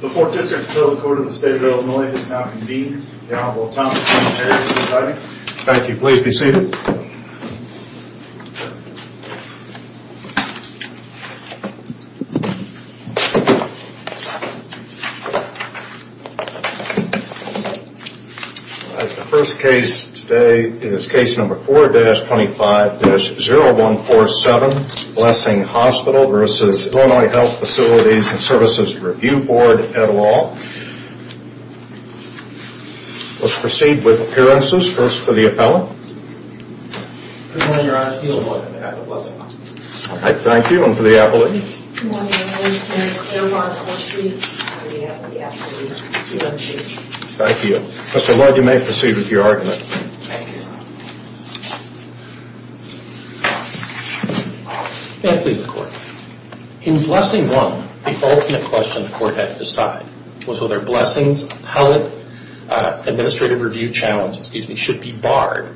The 4th District Appeal Court of the State of Illinois has now convened. The Honorable Tom Terry will be presiding. Thank you. Please be seated. The first case today is case number 4-25-0147, Blessing Hospital v. Illinois Health Facilities and Services Review Board, et al. Let's proceed with appearances. First, for the appellant. Thank you. And for the appellant. Thank you. Mr. Lloyd, you may proceed with your argument. May it please the Court. In Blessing 1, the ultimate question the Court had to decide was whether Blessing's appellate administrative review challenge should be barred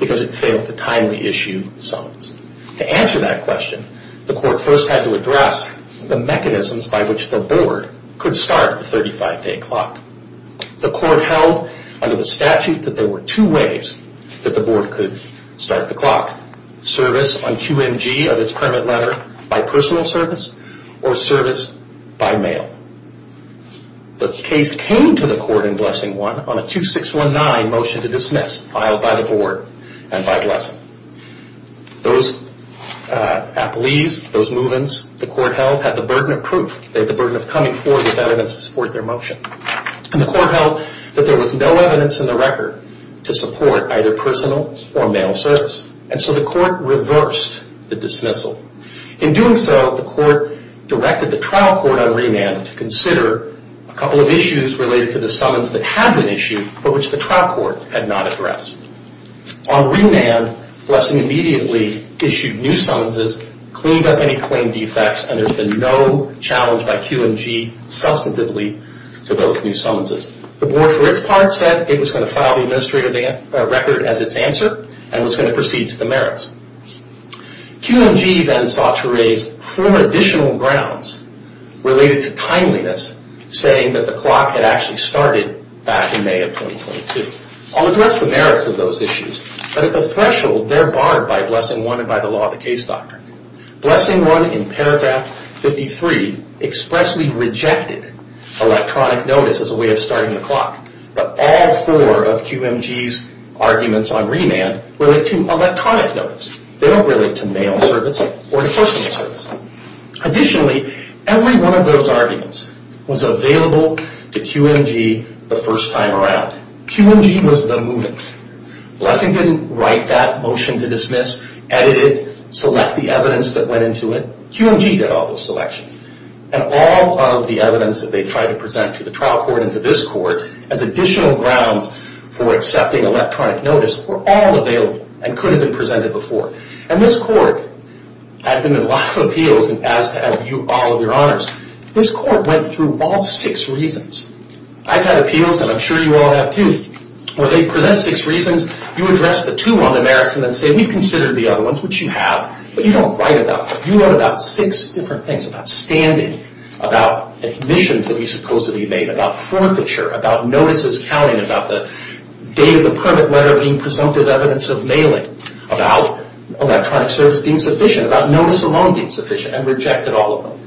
because it failed to timely issue summons. To answer that question, the Court first had to address the mechanisms by which the Board could start the 35-day clock. The Court held under the statute that there were two ways that the Board could start the clock. Service on QMG of its permit letter by personal service or service by mail. The case came to the Court in Blessing 1 on a 2619 motion to dismiss filed by the Board and by Blessing. Those appellees, those move-ins, the Court held had the burden of proof. They had the burden of coming forward with evidence to support their motion. And the Court held that there was no evidence in the record to support either personal or mail service. And so the Court reversed the dismissal. In doing so, the Court directed the trial court on remand to consider a couple of issues related to the summons that had been issued but which the trial court had not addressed. On remand, Blessing immediately issued new summonses, cleaned up any claim defects, and there's been no challenge by QMG substantively to those new summonses. The Board, for its part, said it was going to file the administrative record as its answer and was going to proceed to the merits. QMG then sought to raise four additional grounds related to timeliness, saying that the clock had actually started back in May of 2022. I'll address the merits of those issues, but at the threshold they're barred by Blessing 1 and by the law of the case doctrine. Blessing 1 in paragraph 53 expressly rejected electronic notice as a way of starting the clock. But all four of QMG's arguments on remand relate to electronic notice. They don't relate to mail service or personal service. Additionally, every one of those arguments was available to QMG the first time around. QMG was the movement. Blessing didn't write that motion to dismiss, edit it, select the evidence that went into it. QMG did all those selections. And all of the evidence that they tried to present to the trial court and to this court as additional grounds for accepting electronic notice were all available and could have been presented before. And this court, I've been in a lot of appeals and asked to have all of your honors. This court went through all six reasons. I've had appeals, and I'm sure you all have too, where they present six reasons. You address the two on the merits and then say, we've considered the other ones, which you have, but you don't write about them. You wrote about six different things, about standing, about admissions that we supposedly made, about forfeiture, about notices counting, about the date of the permit letter being presumptive evidence of mailing, about electronic service being sufficient, about notice alone being sufficient, and rejected all of them.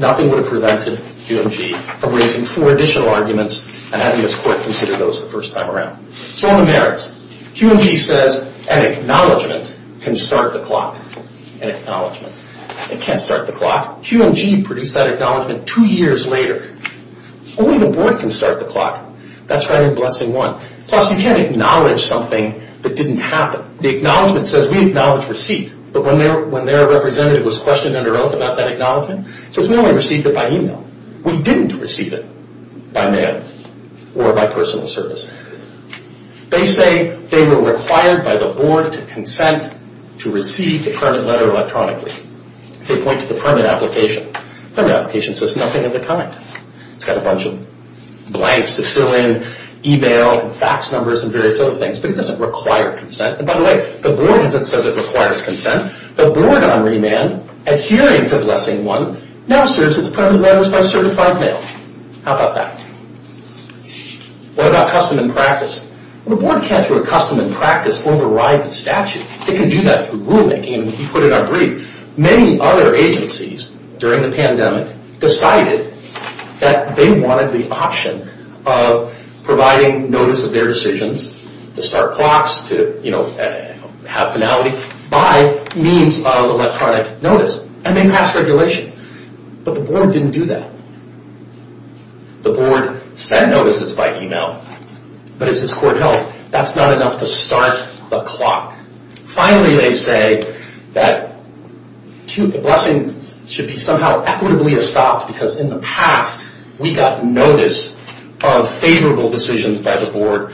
Nothing would have prevented QMG from raising four additional arguments and having this court consider those the first time around. So on the merits, QMG says an acknowledgment can start the clock. An acknowledgment. It can't start the clock. QMG produced that acknowledgment two years later. Only the board can start the clock. That's right in Blessing 1. Plus, you can't acknowledge something that didn't happen. The acknowledgment says we acknowledge receipt, but when their representative was questioned under oath about that acknowledgment, it says we only received it by email. We didn't receive it by mail or by personal service. They say they were required by the board to consent to receive the permit letter electronically. They point to the permit application. Permit application says nothing of the kind. It's got a bunch of blanks to fill in, e-mail, fax numbers, and various other things, but it doesn't require consent. And by the way, the board doesn't say it requires consent. The board on remand, adhering to Blessing 1, now says that the permit letter was by certified mail. How about that? What about custom and practice? The board can't, through a custom and practice, override the statute. It can do that through rulemaking, and he put it on brief. Many other agencies, during the pandemic, decided that they wanted the option of providing notice of their decisions, to start clocks, to have finality, by means of electronic notice. And they passed regulations. But the board didn't do that. The board sent notices by e-mail, but it's his court health. That's not enough to start the clock. Finally, they say that the blessing should be somehow equitably estopped, because in the past, we got notice of favorable decisions by the board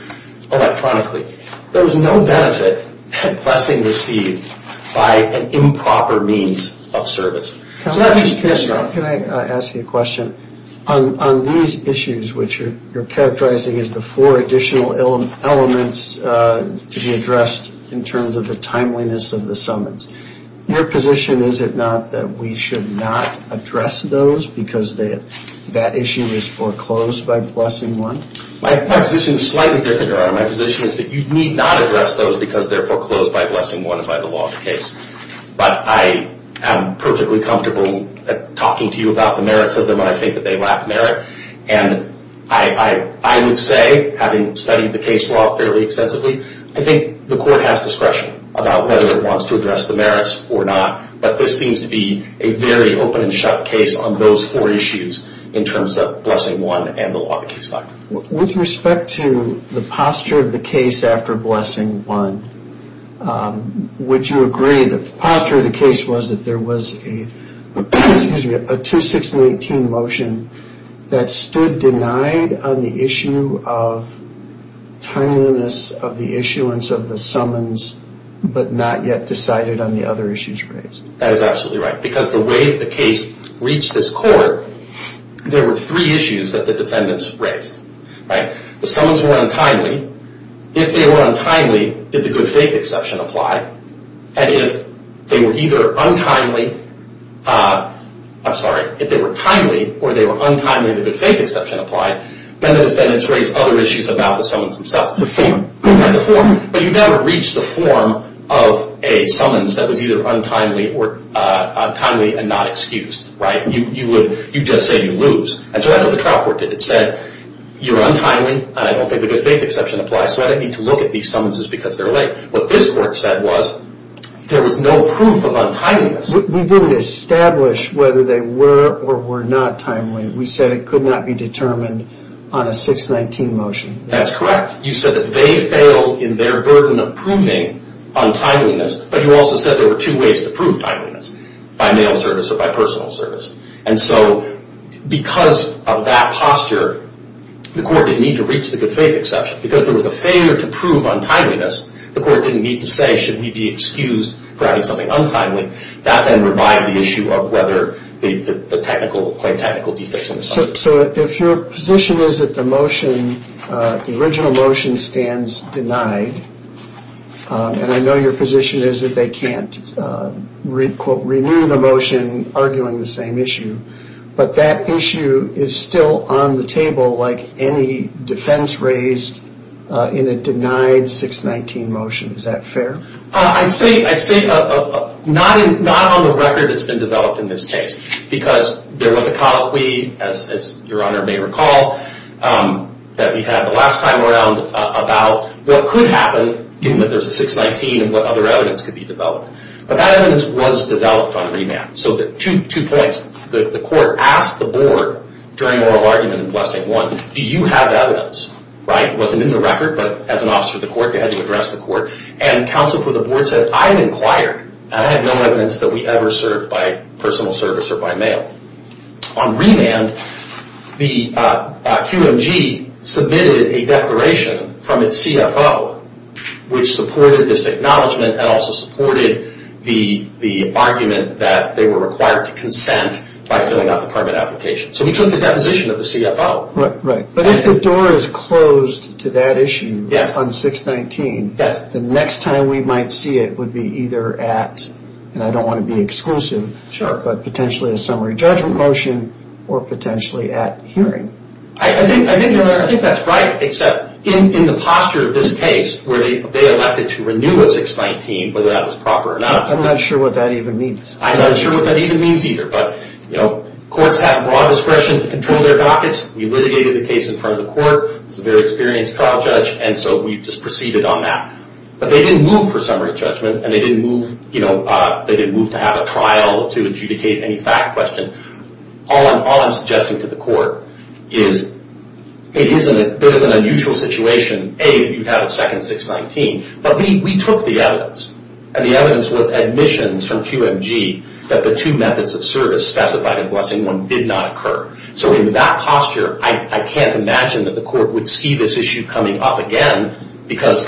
electronically. There was no benefit that blessing received by an improper means of service. So that means you can't start. Can I ask you a question? On these issues, which you're characterizing as the four additional elements to be addressed, in terms of the timeliness of the summons, your position is it not that we should not address those, because that issue is foreclosed by Blessing 1? My position is slightly different, Your Honor. My position is that you need not address those, because they're foreclosed by Blessing 1 and by the law of the case. But I am perfectly comfortable talking to you about the merits of them, and I think that they lack merit. And I would say, having studied the case law fairly extensively, I think the court has discretion about whether it wants to address the merits or not. But this seems to be a very open and shut case on those four issues, in terms of Blessing 1 and the law of the case. With respect to the posture of the case after Blessing 1, would you agree that the posture of the case was that there was a 2-6-18 motion that stood denied on the issue of timeliness of the issuance of the summons, but not yet decided on the other issues raised? That is absolutely right, because the way the case reached this court, there were three issues that the defendants raised. The summons were untimely. If they were untimely, did the good faith exception apply? And if they were either untimely, or they were untimely and the good faith exception applied, then the defendants raised other issues about the summons themselves. But you never reached the form of a summons that was either untimely and not excused. You just say you lose. And so that's what the trial court did. It said, you're untimely, and I don't think the good faith exception applies, so I don't need to look at these summonses because they're late. What this court said was, there was no proof of untimeliness. We didn't establish whether they were or were not timely. We said it could not be determined on a 6-19 motion. That's correct. You said that they fail in their burden of proving untimeliness, but you also said there were two ways to prove timeliness, by mail service or by personal service. And so because of that posture, the court didn't need to reach the good faith exception. Because there was a failure to prove untimeliness, the court didn't need to say, should we be excused for having something untimely? That then revived the issue of whether the technical claim, technical defects in the summons. So if your position is that the motion, the original motion, stands denied, and I know your position is that they can't renew the motion arguing the same issue, but that issue is still on the table like any defense raised in a denied 6-19 motion. Is that fair? I'd say not on the record it's been developed in this case, because there was a colloquy, as your Honor may recall, that we had the last time around about what could happen given that there's a 6-19 and what other evidence could be developed. But that evidence was developed on remand. So two points. The court asked the board during oral argument in Blessing I, do you have evidence? It wasn't in the record, but as an officer of the court, they had to address the court. And counsel for the board said, I've inquired, and I have no evidence that we ever served by personal service or by mail. On remand, the QMG submitted a declaration from its CFO, which supported this acknowledgment and also supported the argument that they were required to consent by filling out the permit application. So we took the deposition of the CFO. But if the door is closed to that issue on 6-19, the next time we might see it would be either at, and I don't want to be exclusive, but potentially a summary judgment motion or potentially at hearing. I think that's right, except in the posture of this case, where they elected to renew a 6-19, whether that was proper or not. I'm not sure what that even means. I'm not sure what that even means either. But courts have broad discretion to control their dockets. We litigated the case in front of the court. It's a very experienced trial judge, and so we just proceeded on that. But they didn't move for summary judgment, and they didn't move to have a trial to adjudicate any fact question. All I'm suggesting to the court is it is a bit of an unusual situation. A, you have a second 6-19. But we took the evidence, and the evidence was admissions from QMG that the two methods of service specified in Blessing I did not occur. So in that posture, I can't imagine that the court would see this issue coming up again because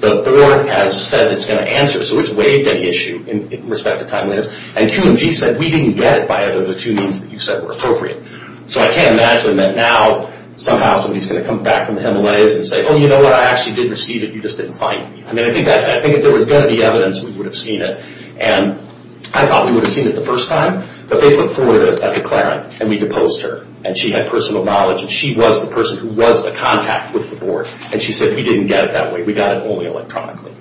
the board has said it's going to answer. So it's waived any issue in respect to timeliness. And QMG said we didn't get it by either of the two means that you said were appropriate. So I can't imagine that now somehow somebody is going to come back from the Himalayas and say, oh, you know what? I actually did receive it. You just didn't find it. I mean, I think if there was going to be evidence, we would have seen it. And I thought we would have seen it the first time. But they put forward a declarant, and we deposed her. And she had personal knowledge, and she was the person who was in contact with the board. And she said we didn't get it that way. We got it only electronically.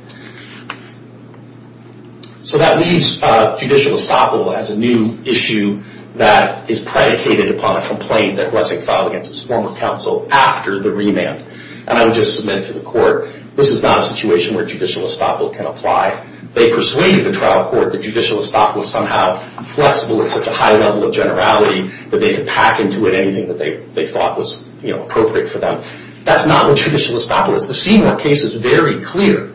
So that leaves judicial estoppel as a new issue that is predicated upon a complaint that Blessing filed against his former counsel after the remand. And I would just submit to the court, this is not a situation where judicial estoppel can apply. They persuaded the trial court that judicial estoppel was somehow flexible at such a high level of generality that they could pack into it anything that they thought was appropriate for them. That's not what judicial estoppel is. The Seymour case is very clear.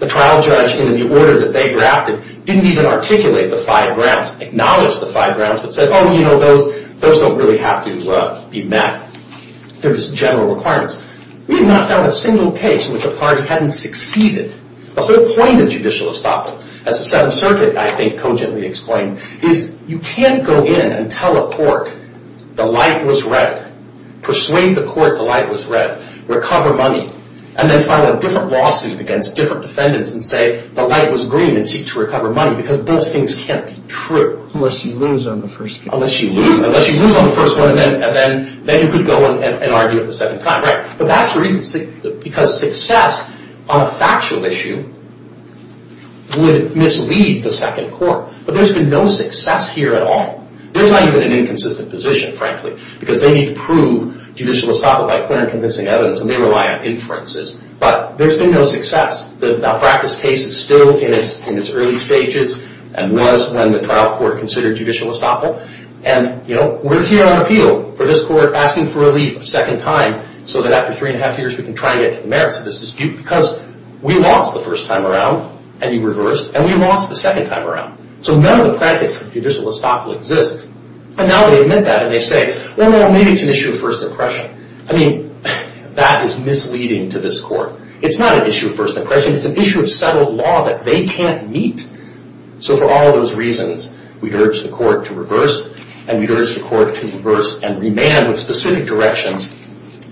The trial judge in the order that they drafted didn't even articulate the five grounds, acknowledge the five grounds, but said, oh, you know, those don't really have to be met. There's general requirements. We have not found a single case in which a party hadn't succeeded. The whole point of judicial estoppel, as the Seventh Circuit, I think, cogently explained, is you can't go in and tell a court the light was red, persuade the court the light was red, recover money, and then file a different lawsuit against different defendants and say the light was green and seek to recover money because both things can't be true. Unless you lose on the first case. Unless you lose on the first one and then you could go and argue it a second time. But that's the reason, because success on a factual issue would mislead the second court. But there's been no success here at all. There's not even an inconsistent position, frankly, because they need to prove judicial estoppel by clear and convincing evidence, and they rely on inferences. But there's been no success. The practice case is still in its early stages and was when the trial court considered judicial estoppel. And, you know, we're here on appeal for this court asking for relief a second time so that after three and a half years we can try to get to the merits of this dispute because we lost the first time around, and we reversed, and we lost the second time around. So none of the practice for judicial estoppel exists. And now they admit that and they say, well, maybe it's an issue of first impression. I mean, that is misleading to this court. It's not an issue of first impression. It's an issue of settled law that they can't meet. So for all those reasons, we urge the court to reverse, and we urge the court to reverse and remand with specific directions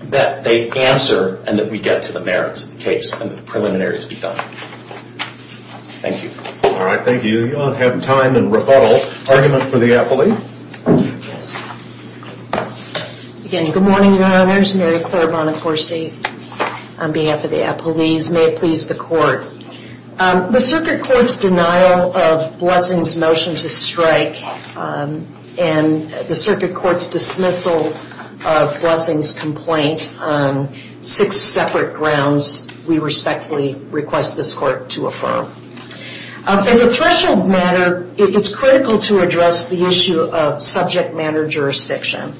that they answer and that we get to the merits of the case and the preliminaries be done. Thank you. All right, thank you. We don't have time in rebuttal. Argument for the appellee. Yes. Again, good morning, Your Honors. Mary Claire Bonacorsi on behalf of the appellees. May it please the Court. The circuit court's denial of Blessing's motion to strike and the circuit court's dismissal of Blessing's complaint on six separate grounds, we respectfully request this court to affirm. As a threshold matter, it's critical to address the issue of subject matter jurisdiction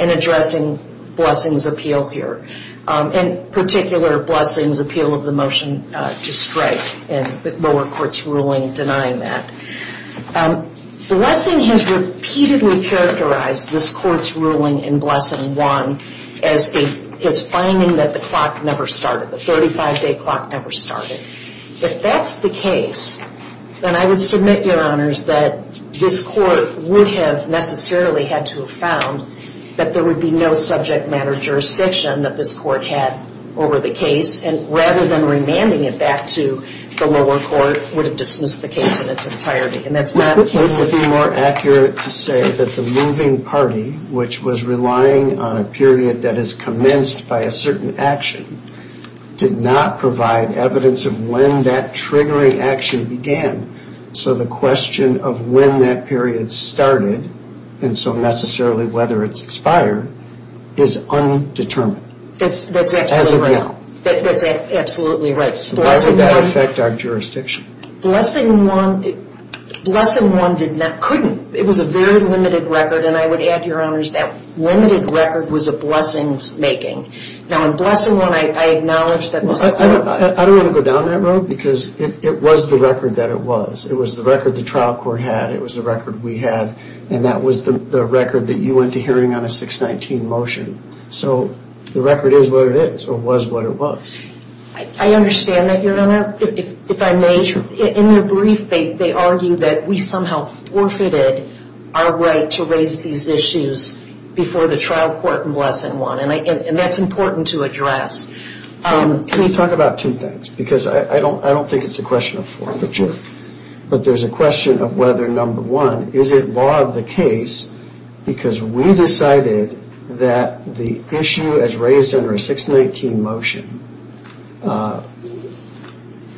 in addressing Blessing's appeal here, in particular Blessing's appeal of the motion to strike and the lower court's ruling denying that. Blessing has repeatedly characterized this court's ruling in Blessing 1 as finding that the clock never started, the 35-day clock never started. If that's the case, then I would submit, Your Honors, that this court would have necessarily had to have found that there would be no subject matter jurisdiction that this court had over the case, and rather than remanding it back to the lower court, would have dismissed the case in its entirety. Wouldn't it be more accurate to say that the moving party, which was relying on a period that is commenced by a certain action, did not provide evidence of when that triggering action began? So the question of when that period started, and so necessarily whether it's expired, is undetermined. That's absolutely right. Why would that affect our jurisdiction? Blessing 1 couldn't. It was a very limited record, and I would add, Your Honors, that limited record was a Blessing's making. Now in Blessing 1, I acknowledge that Blessing 1... I don't want to go down that road because it was the record that it was. It was the record the trial court had, it was the record we had, and that was the record that you went to hearing on a 619 motion. So the record is what it is, or was what it was. I understand that, Your Honor. If I may, in your brief, they argue that we somehow forfeited our right to raise these issues before the trial court in Blessing 1, and that's important to address. Can we talk about two things? Because I don't think it's a question of forfeiture, but there's a question of whether, number one, is it law of the case because we decided that the issue as raised under a 619 motion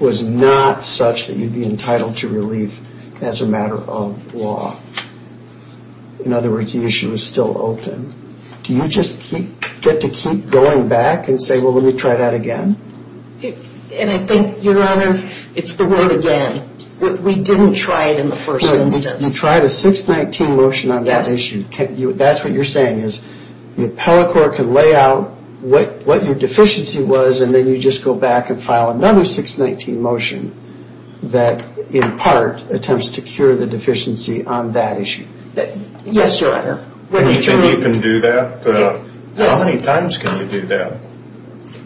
was not such that you'd be entitled to relief as a matter of law. In other words, the issue is still open. Do you just get to keep going back and say, well, let me try that again? And I think, Your Honor, it's the word again. We didn't try it in the first instance. You tried a 619 motion on that issue. That's what you're saying is the appellate court can lay out what your deficiency was and then you just go back and file another 619 motion that, in part, attempts to cure the deficiency on that issue. Yes, Your Honor. Do you think you can do that? How many times can you do that?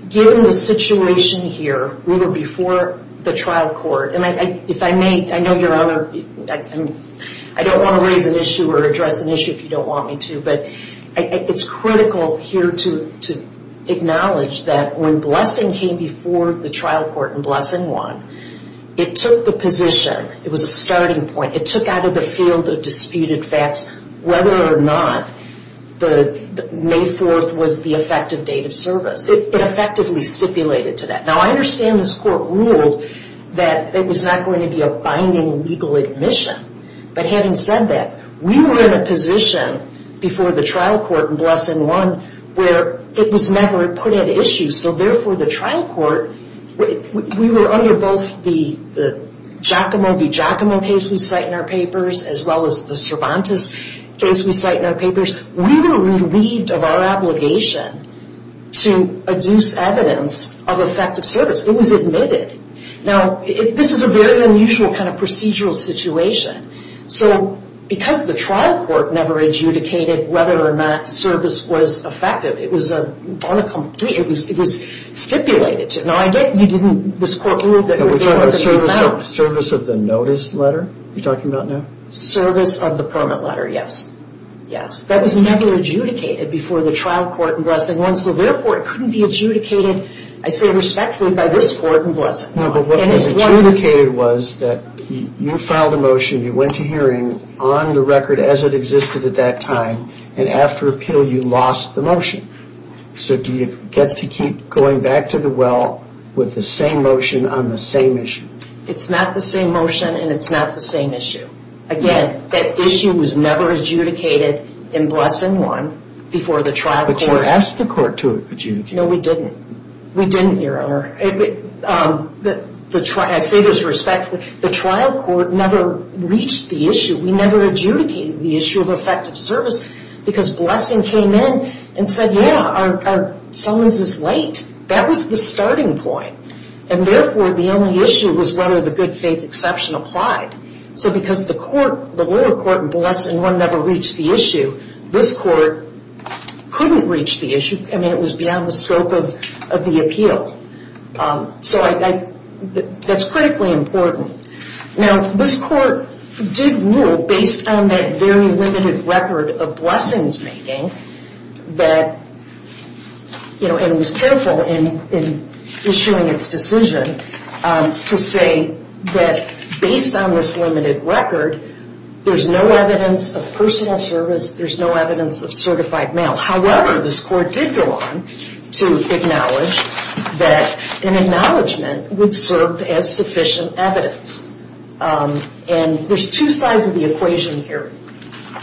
Given the situation here, we were before the trial court, and if I may, I know, Your Honor, I don't want to raise an issue or address an issue if you don't want me to, but it's critical here to acknowledge that when blessing came before the trial court and blessing won, it took the position, it was a starting point, it took out of the field of disputed facts whether or not May 4th was the effective date of service. It effectively stipulated to that. Now, I understand this court ruled that it was not going to be a binding legal admission, but having said that, we were in a position before the trial court and blessing won where it was never put at issue, so therefore the trial court, we were under both the Giacomo v. Giacomo case we cite in our papers as well as the Cervantes case we cite in our papers. We were relieved of our obligation to adduce evidence of effective service. It was admitted. Now, this is a very unusual kind of procedural situation, so because the trial court never adjudicated whether or not service was effective, it was stipulated to. Now, I get you didn't, this court ruled that it was not going to matter. Service of the notice letter you're talking about now? Service of the permit letter, yes. Yes. That was never adjudicated before the trial court and blessing won, so therefore it couldn't be adjudicated, I say respectfully, by this court and blessing won. No, but what was adjudicated was that you filed a motion, you went to hearing on the record as it existed at that time, and after appeal you lost the motion. So do you get to keep going back to the well with the same motion on the same issue? It's not the same motion and it's not the same issue. Again, that issue was never adjudicated in blessing won before the trial court. But you asked the court to adjudicate. No, we didn't. We didn't, Your Honor. I say this respectfully. The trial court never reached the issue. We never adjudicated the issue of effective service because blessing came in and said, yeah, someone's just late. That was the starting point, and therefore the only issue was whether the good faith exception applied. So because the lower court in blessing won never reached the issue, this court couldn't reach the issue. I mean, it was beyond the scope of the appeal. So that's critically important. Now, this court did rule based on that very limited record of blessings making and was careful in issuing its decision to say that based on this limited record, there's no evidence of personal service, there's no evidence of certified mail. However, this court did go on to acknowledge that an acknowledgment would serve as sufficient evidence. And there's two sides of the equation here.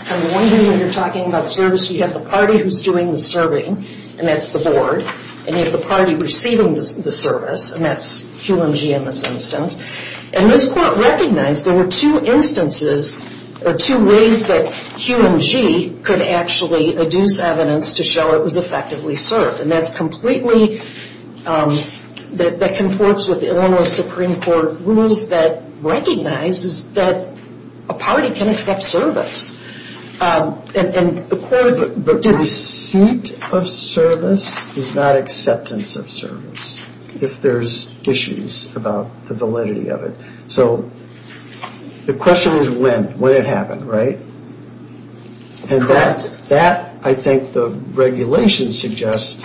I'm wondering when you're talking about service, you have the party who's doing the serving, and that's the board, and you have the party receiving the service, and that's QMG in this instance. And this court recognized there were two instances or two ways that QMG could actually adduce evidence to show it was effectively served, and that's completely, that conforts with Illinois Supreme Court rules that recognizes that a party can accept service. And the court, the receipt of service is not acceptance of service, if there's issues about the validity of it. So the question is when, when it happened, right? And that, that I think the regulation suggests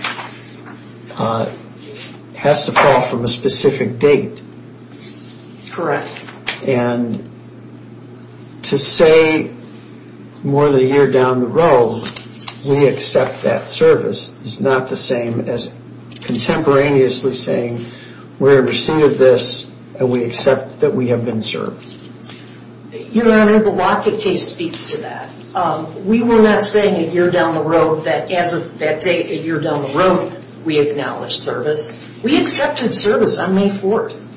has to fall from a specific date. Correct. And to say more than a year down the road we accept that service is not the same as contemporaneously saying we're in receipt of this and we accept that we have been served. Your Honor, the Lockett case speaks to that. We were not saying a year down the road that as of that date, a year down the road we acknowledged service. We accepted service on May 4th.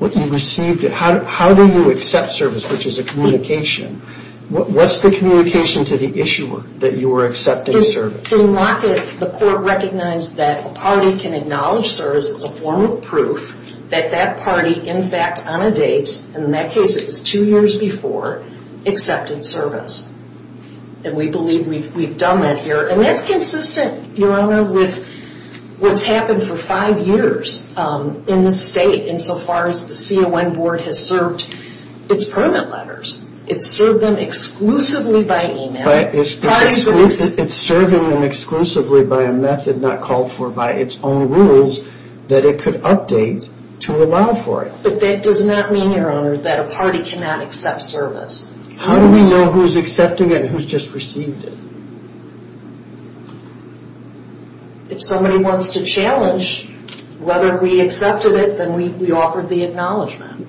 What you received, how do you accept service, which is a communication? What's the communication to the issuer that you were accepting service? The Lockett, the court recognized that a party can acknowledge service as a form of proof that that party in fact on a date, and in that case it was two years before, accepted service. And we believe we've done that here. And that's consistent, Your Honor, with what's happened for five years in this state insofar as the CON Board has served its permit letters. It's served them exclusively by email. It's serving them exclusively by a method not called for by its own rules that it could update to allow for it. But that does not mean, Your Honor, that a party cannot accept service. How do we know who's accepting it and who's just received it? If somebody wants to challenge whether we accepted it, then we offered the acknowledgement.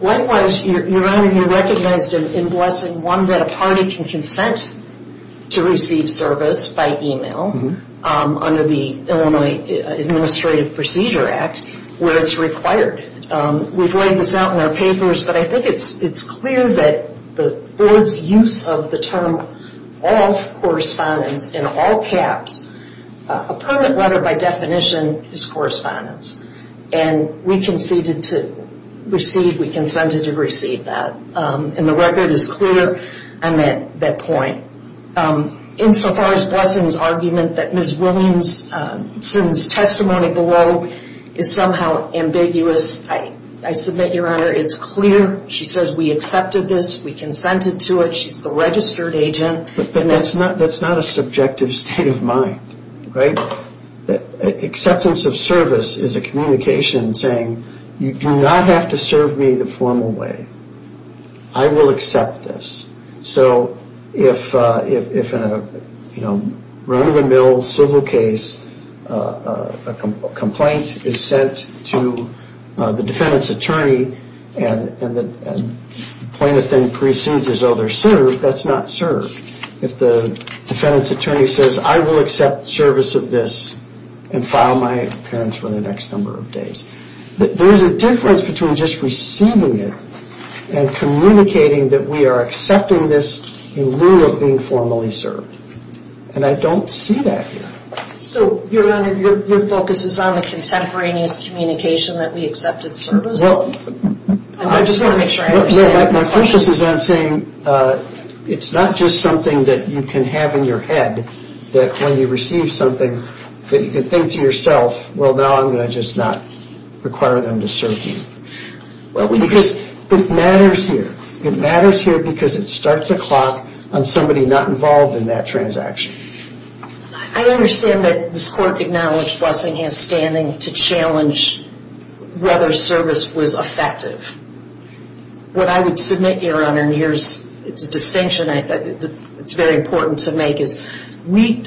Likewise, Your Honor, you recognized in Blessing 1 that a party can consent to receive service by email under the Illinois Administrative Procedure Act where it's required. We've laid this out in our papers, but I think it's clear that the Board's use of the term ALL CORRESPONDENCE in all caps, a permit letter by definition is correspondence. And we conceded to receive, we consented to receive that. And the record is clear on that point. Insofar as Blessing's argument that Ms. Williamson's testimony below is somehow ambiguous, I submit, Your Honor, it's clear. She says we accepted this, we consented to it, she's the registered agent. But that's not a subjective state of mind, right? Acceptance of service is a communication saying you do not have to serve me the formal way. I will accept this. So if in a run-of-the-mill civil case, a complaint is sent to the defendant's attorney and the plaintiff then proceeds as though they're served, that's not served. If the defendant's attorney says I will accept service of this and file my appearance for the next number of days. There is a difference between just receiving it and communicating that we are accepting this in lieu of being formally served. And I don't see that here. So, Your Honor, your focus is on the contemporaneous communication that we accepted service of? I just want to make sure I understand. My focus is on saying it's not just something that you can have in your head that when you receive something that you can think to yourself, well, now I'm going to just not require them to serve me. Because it matters here. It matters here because it starts a clock on somebody not involved in that transaction. I understand that this Court acknowledged Blessing has standing to challenge whether service was effective. What I would submit, Your Honor, and it's a distinction that's very important to make, is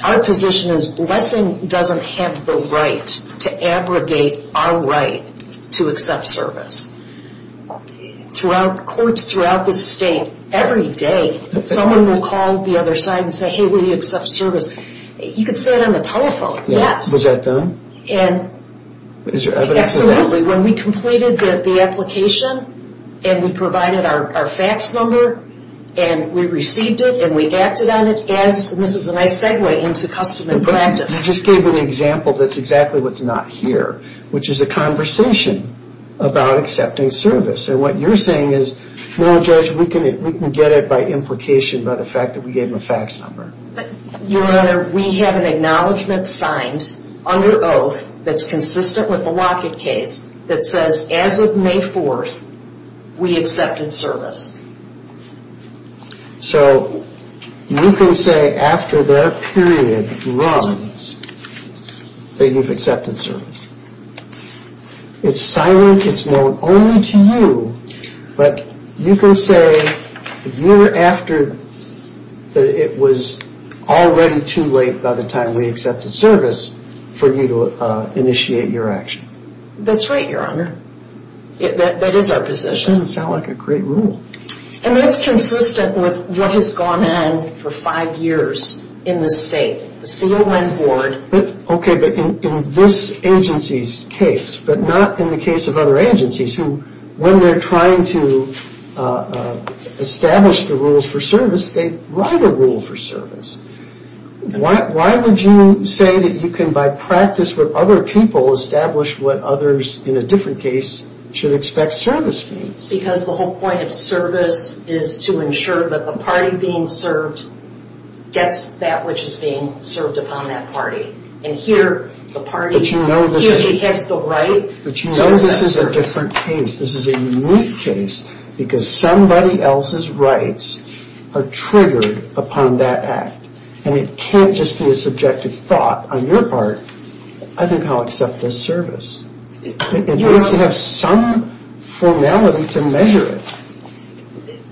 our position is Blessing doesn't have the right to abrogate our right to accept service. Courts throughout this state, every day, someone will call the other side and say, hey, will you accept service? You can say it on the telephone, yes. Was that done? Absolutely. When we completed the application and we provided our fax number and we received it and we acted on it, and this is a nice segue into custom and practice. I just gave an example that's exactly what's not here, which is a conversation about accepting service. And what you're saying is, no, Judge, we can get it by implication by the fact that we gave them a fax number. Your Honor, we have an acknowledgment signed under oath that's consistent with the Lockett case that says as of May 4th, we accepted service. So you can say after their period runs that you've accepted service. It's silent. It's known only to you. But you can say a year after it was already too late by the time we accepted service for you to initiate your action. That's right, Your Honor. That is our position. That doesn't sound like a great rule. And that's consistent with what has gone on for five years in this state, the CON Board. Okay, but in this agency's case, but not in the case of other agencies who when they're trying to establish the rules for service, they write a rule for service. Why would you say that you can, by practice with other people, establish what others in a different case should expect service means? Because the whole point of service is to ensure that the party being served gets that which is being served upon that party. And here the party usually has the right. But you know this is a different case. This is a unique case because somebody else's rights are triggered upon that act. And it can't just be a subjective thought on your part. I think I'll accept this service. It needs to have some formality to measure it.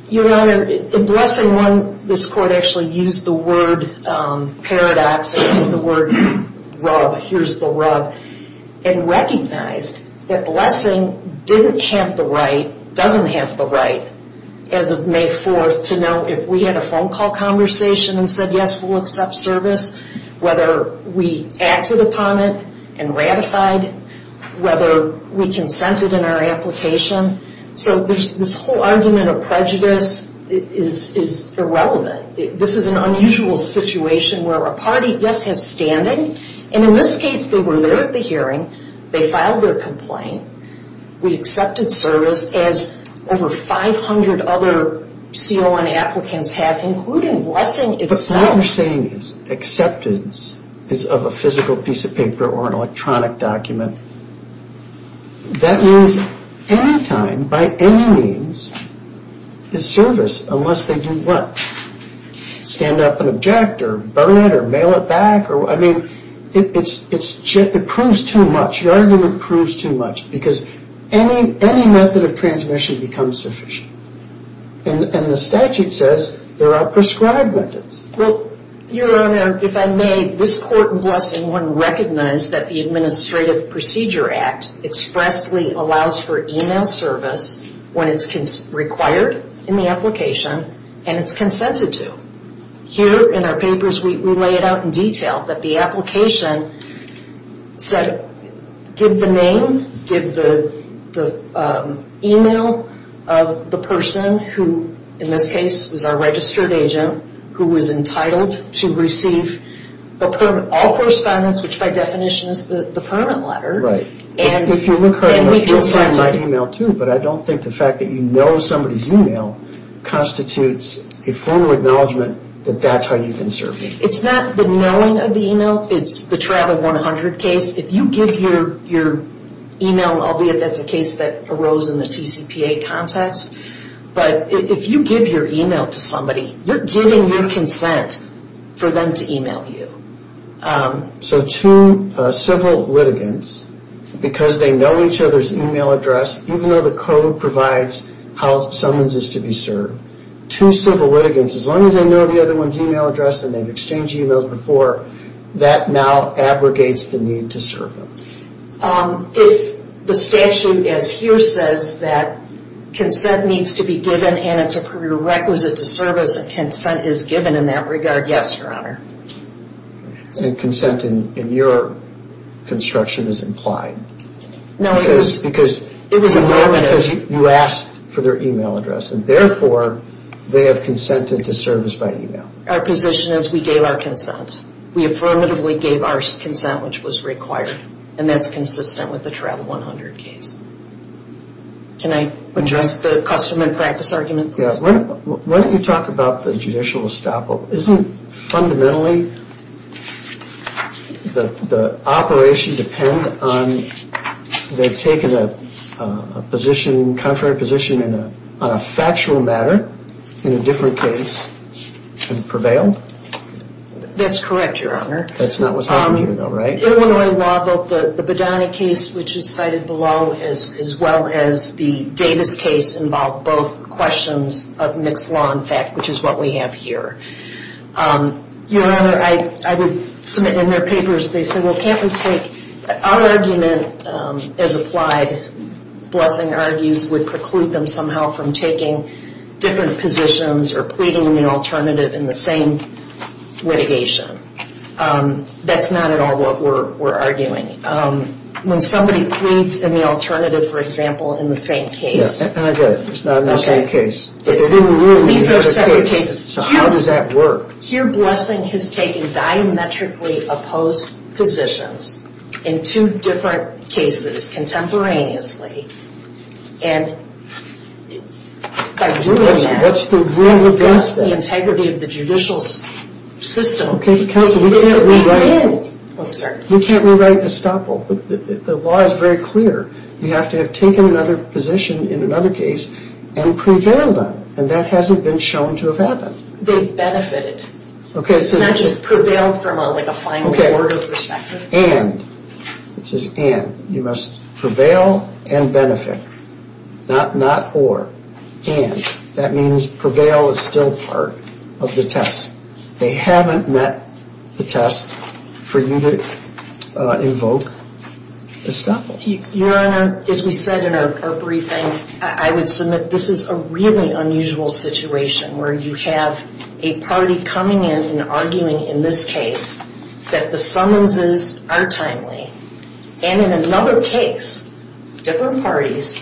Your Honor, in Blessing 1, this court actually used the word paradox, used the word rub, here's the rub, and recognized that Blessing didn't have the right, doesn't have the right, as of May 4th, to know if we had a phone call conversation and said, yes, we'll accept service, whether we acted upon it and ratified it, whether we consented in our application. So this whole argument of prejudice is irrelevant. This is an unusual situation where a party, yes, has standing. And in this case, they were there at the hearing. They filed their complaint. We accepted service, as over 500 other CON applicants have, including Blessing itself. All you're saying is acceptance is of a physical piece of paper or an electronic document. That means any time, by any means, is service, unless they do what? Stand up and object or burn it or mail it back? I mean, it proves too much. Your argument proves too much because any method of transmission becomes sufficient. And the statute says there are prescribed methods. Well, Your Honor, if I may, this Court in Blessing wouldn't recognize that the Administrative Procedure Act expressly allows for email service when it's required in the application and it's consented to. Here in our papers, we lay it out in detail, that the application said give the name, give the email of the person who, in this case, was our registered agent, who was entitled to receive all correspondence, which by definition is the permit letter. If you look hard enough, you'll find my email too, but I don't think the fact that you know somebody's email constitutes a formal acknowledgement that that's how you've been serving. It's not the knowing of the email, it's the Travel 100 case. If you give your email, albeit that's a case that arose in the TCPA context, but if you give your email to somebody, you're giving your consent for them to email you. So two civil litigants, because they know each other's email address, even though the code provides how someone's is to be served, two civil litigants, as long as they know the other one's email address and they've exchanged emails before, that now abrogates the need to serve them. If the statute as here says that consent needs to be given and it's a prerequisite to service and consent is given in that regard, yes, Your Honor. And consent in your construction is implied. No, it is. Because you asked for their email address and therefore they have consented to service by email. Our position is we gave our consent. We affirmatively gave our consent, which was required, and that's consistent with the Travel 100 case. Can I address the custom and practice argument, please? Why don't you talk about the judicial estoppel. Isn't fundamentally the operation depend on they've taken a position, contrary position on a factual matter in a different case and prevailed? That's correct, Your Honor. That's not what's happening here, though, right? Illinois law, both the Badani case, which is cited below, as well as the Davis case involve both questions of mixed law and fact, which is what we have here. Your Honor, I would submit in their papers, they say, well, can't we take our argument as applied, Blessing argues, would preclude them somehow from taking different positions or pleading in the alternative in the same litigation. That's not at all what we're arguing. When somebody pleads in the alternative, for example, in the same case. I get it. It's not in the same case. It's in the room. These are separate cases. So how does that work? Your Honor, here Blessing has taken diametrically opposed positions in two different cases contemporaneously. And by doing that. What's the rule against that? That's the integrity of the judicial system. Counsel, you can't rewrite Gestapo. The law is very clear. You have to have taken another position in another case and prevailed on it. And that hasn't been shown to have happened. They benefited. It's not just prevailed from a fine board perspective. And, it says and, you must prevail and benefit. Not not or. And. That means prevail is still part of the test. They haven't met the test for you to invoke Gestapo. Your Honor, as we said in our briefing, I would submit this is a really unusual situation where you have a party coming in and arguing in this case that the summonses are timely. And in another case, different parties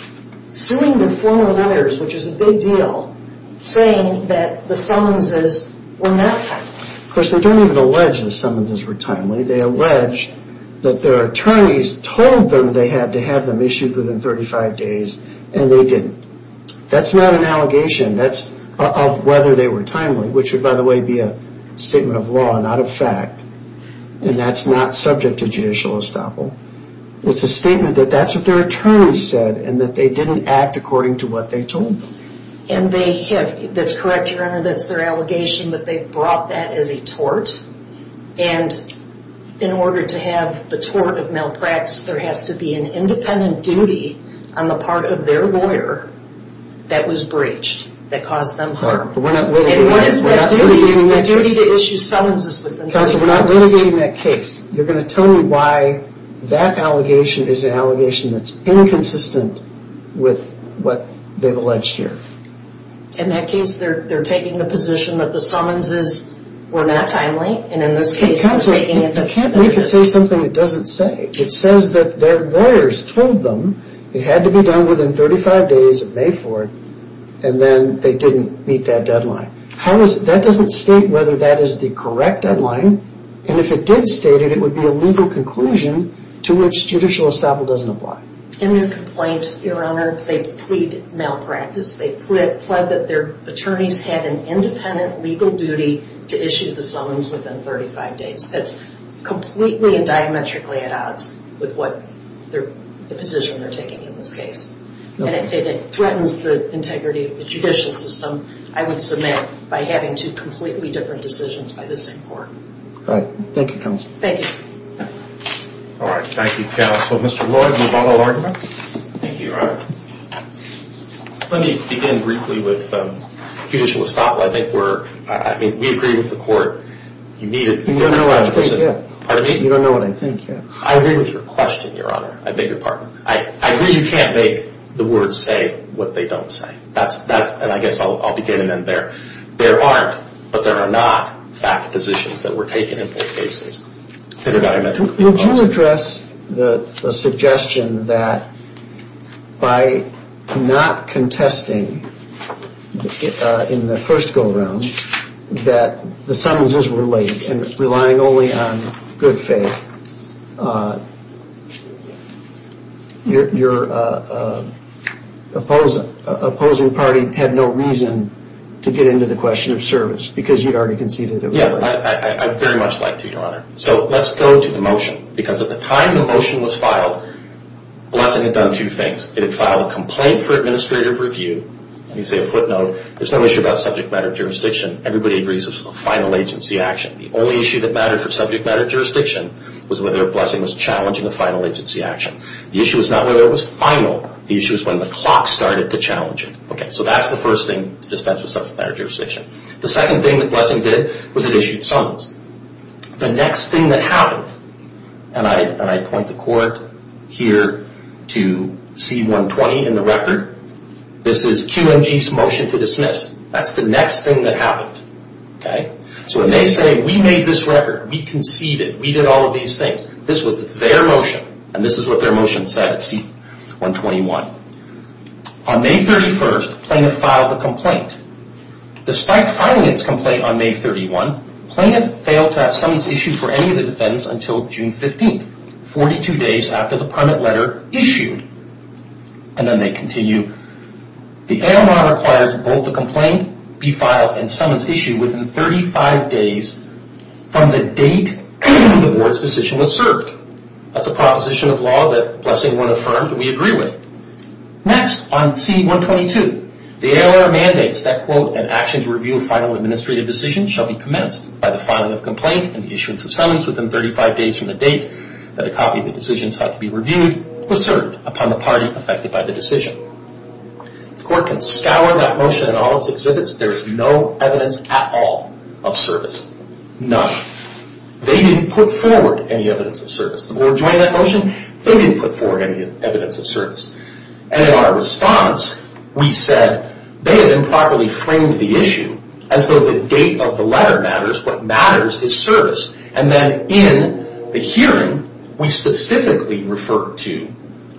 suing their former lawyers, which is a big deal, saying that the summonses were not timely. Of course, they don't even allege the summonses were timely. They allege that their attorneys told them they had to have them issued within 35 days, and they didn't. That's not an allegation. That's of whether they were timely, which would, by the way, be a statement of law, not a fact. And that's not subject to judicial estoppel. It's a statement that that's what their attorneys said and that they didn't act according to what they told them. And they have, that's correct, Your Honor, that's their allegation that they brought that as a tort. And in order to have the tort of malpractice, there has to be an independent duty on the part of their lawyer that was breached, that caused them harm. But we're not litigating that case. And what is that duty? The duty to issue summonses within 35 days. Counsel, we're not litigating that case. You're going to tell me why that allegation is an allegation that's inconsistent with what they've alleged here. In that case, they're taking the position that the summonses were not timely. And in this case, they're taking it to court. I can't believe it says something it doesn't say. It says that their lawyers told them it had to be done within 35 days of May 4th. And then they didn't meet that deadline. That doesn't state whether that is the correct deadline. And if it did state it, it would be a legal conclusion to which judicial estoppel doesn't apply. In their complaint, Your Honor, they plead malpractice. They plead that their attorneys had an independent legal duty to issue the summons within 35 days. That's completely and diametrically at odds with the position they're taking in this case. And it threatens the integrity of the judicial system, I would submit, by having two completely different decisions by this court. All right. Thank you, Counsel. Thank you. All right. Thank you, counsel. Mr. Lloyd, will you follow argument? Thank you, Your Honor. Let me begin briefly with judicial estoppel. I think we're – I mean, we agree with the court. You need a – You don't know what I think yet. Pardon me? You don't know what I think yet. I agree with your question, Your Honor. I beg your pardon. I agree you can't make the words say what they don't say. That's – and I guess I'll begin and end there. There aren't, but there are not, fact positions that were taken in both cases that are diametrically at odds. Would you address the suggestion that by not contesting in the first go-around that the summonses were late and relying only on good faith, your opposing party had no reason to get into the question of service because you'd already conceded it was late? Yeah, I'd very much like to, Your Honor. So let's go to the motion because at the time the motion was filed, Blessing had done two things. It had filed a complaint for administrative review. Let me say a footnote. There's no issue about subject matter jurisdiction. Everybody agrees it was a final agency action. The only issue that mattered for subject matter jurisdiction was whether Blessing was challenging a final agency action. The issue is not whether it was final. The issue is when the clock started to challenge it. Okay, so that's the first thing to dispense with subject matter jurisdiction. The second thing that Blessing did was it issued summons. The next thing that happened, and I point the court here to C-120 in the record, this is QMG's motion to dismiss. That's the next thing that happened. So when they say, we made this record, we conceded, we did all of these things, this was their motion, and this is what their motion said at C-121. On May 31st, plaintiff filed a complaint. Despite filing its complaint on May 31st, plaintiff failed to have summons issued for any of the defendants until June 15th, 42 days after the permit letter issued. And then they continue. The ALR requires both the complaint be filed and summons issued within 35 days from the date the board's decision was served. That's a proposition of law that Blessing would have affirmed and we agree with. Next, on C-122, the ALR mandates that, quote, an action to review a final administrative decision shall be commenced by the filing of complaint and the issuance of summons within 35 days from the date that a copy of the decision sought to be reviewed was served upon the party affected by the decision. The court can scour that motion in all its exhibits. There is no evidence at all of service. None. They didn't put forward any evidence of service. The board joined that motion. They didn't put forward any evidence of service. And in our response, we said they had improperly framed the issue as though the date of the letter matters, what matters is service. And then in the hearing, we specifically referred to,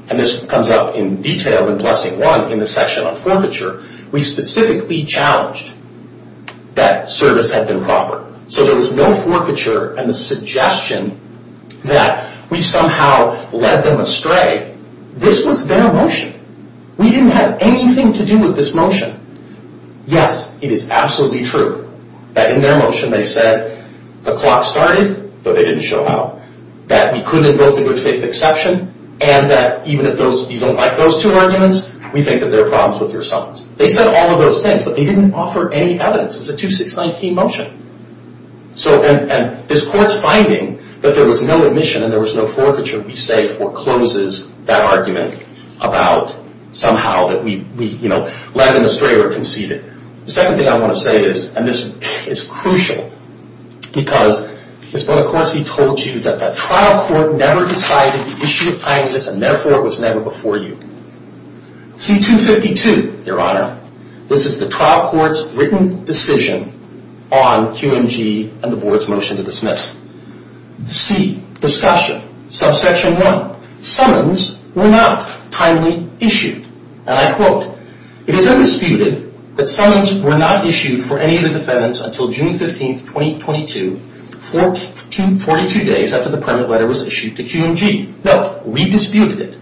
and this comes up in detail in Blessing 1 in the section on forfeiture, we specifically challenged that service had been proper. So there was no forfeiture and the suggestion that we somehow led them astray. This was their motion. We didn't have anything to do with this motion. Yes, it is absolutely true that in their motion they said the clock started, though they didn't show how, that we couldn't invoke the good faith exception, and that even if you don't like those two arguments, we think that there are problems with your summons. They said all of those things, but they didn't offer any evidence. It was a 2-6-19 motion. And this court's finding that there was no admission and there was no forfeiture we say forecloses that argument about somehow that we led them astray or conceded. The second thing I want to say is, and this is crucial, because Ms. Bonacorsi told you that the trial court never decided the issue of timeliness and therefore it was never before you. C-252, Your Honor. This is the trial court's written decision on QMG and the board's motion to dismiss. C. Discussion. Subsection 1. Summons were not timely issued. And I quote, It is undisputed that summons were not issued for any of the defendants until June 15, 2022, 42 days after the permit letter was issued to QMG. Note, we disputed it.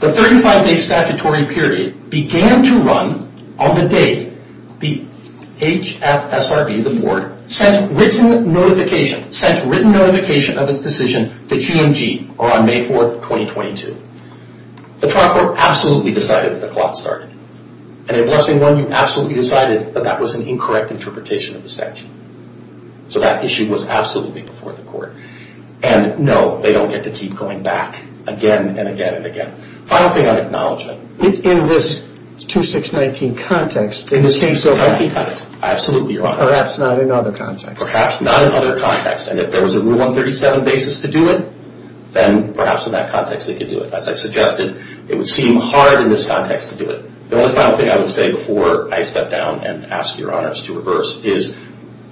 The 35-day statutory period began to run on the date the HFSRB, the board, sent written notification of its decision to QMG on May 4, 2022. The trial court absolutely decided that the clock started. And in Blessing 1, you absolutely decided that that was an incorrect interpretation of the statute. So that issue was absolutely before the court. And no, they don't get to keep going back again and again and again. Final thing on acknowledgement. In this 2-6-19 context, perhaps not in other contexts. Perhaps not in other contexts. And if there was a Rule 137 basis to do it, then perhaps in that context they could do it. As I suggested, it would seem hard in this context to do it. The only final thing I would say before I step down and ask Your Honors to reverse is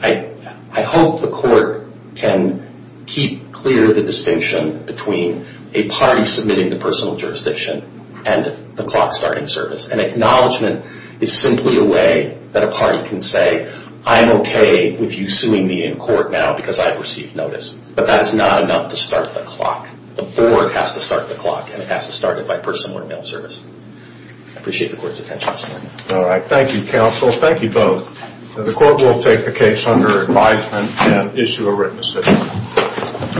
I hope the court can keep clear the distinction between a party submitting the personal jurisdiction and the clock starting service. And acknowledgement is simply a way that a party can say, I'm okay with you suing me in court now because I've received notice. But that is not enough to start the clock. The board has to start the clock, and it has to start it by personal or mail service. I appreciate the court's attention this morning. All right. Thank you, counsel. Thank you both. The court will take the case under advisement and issue a written decision.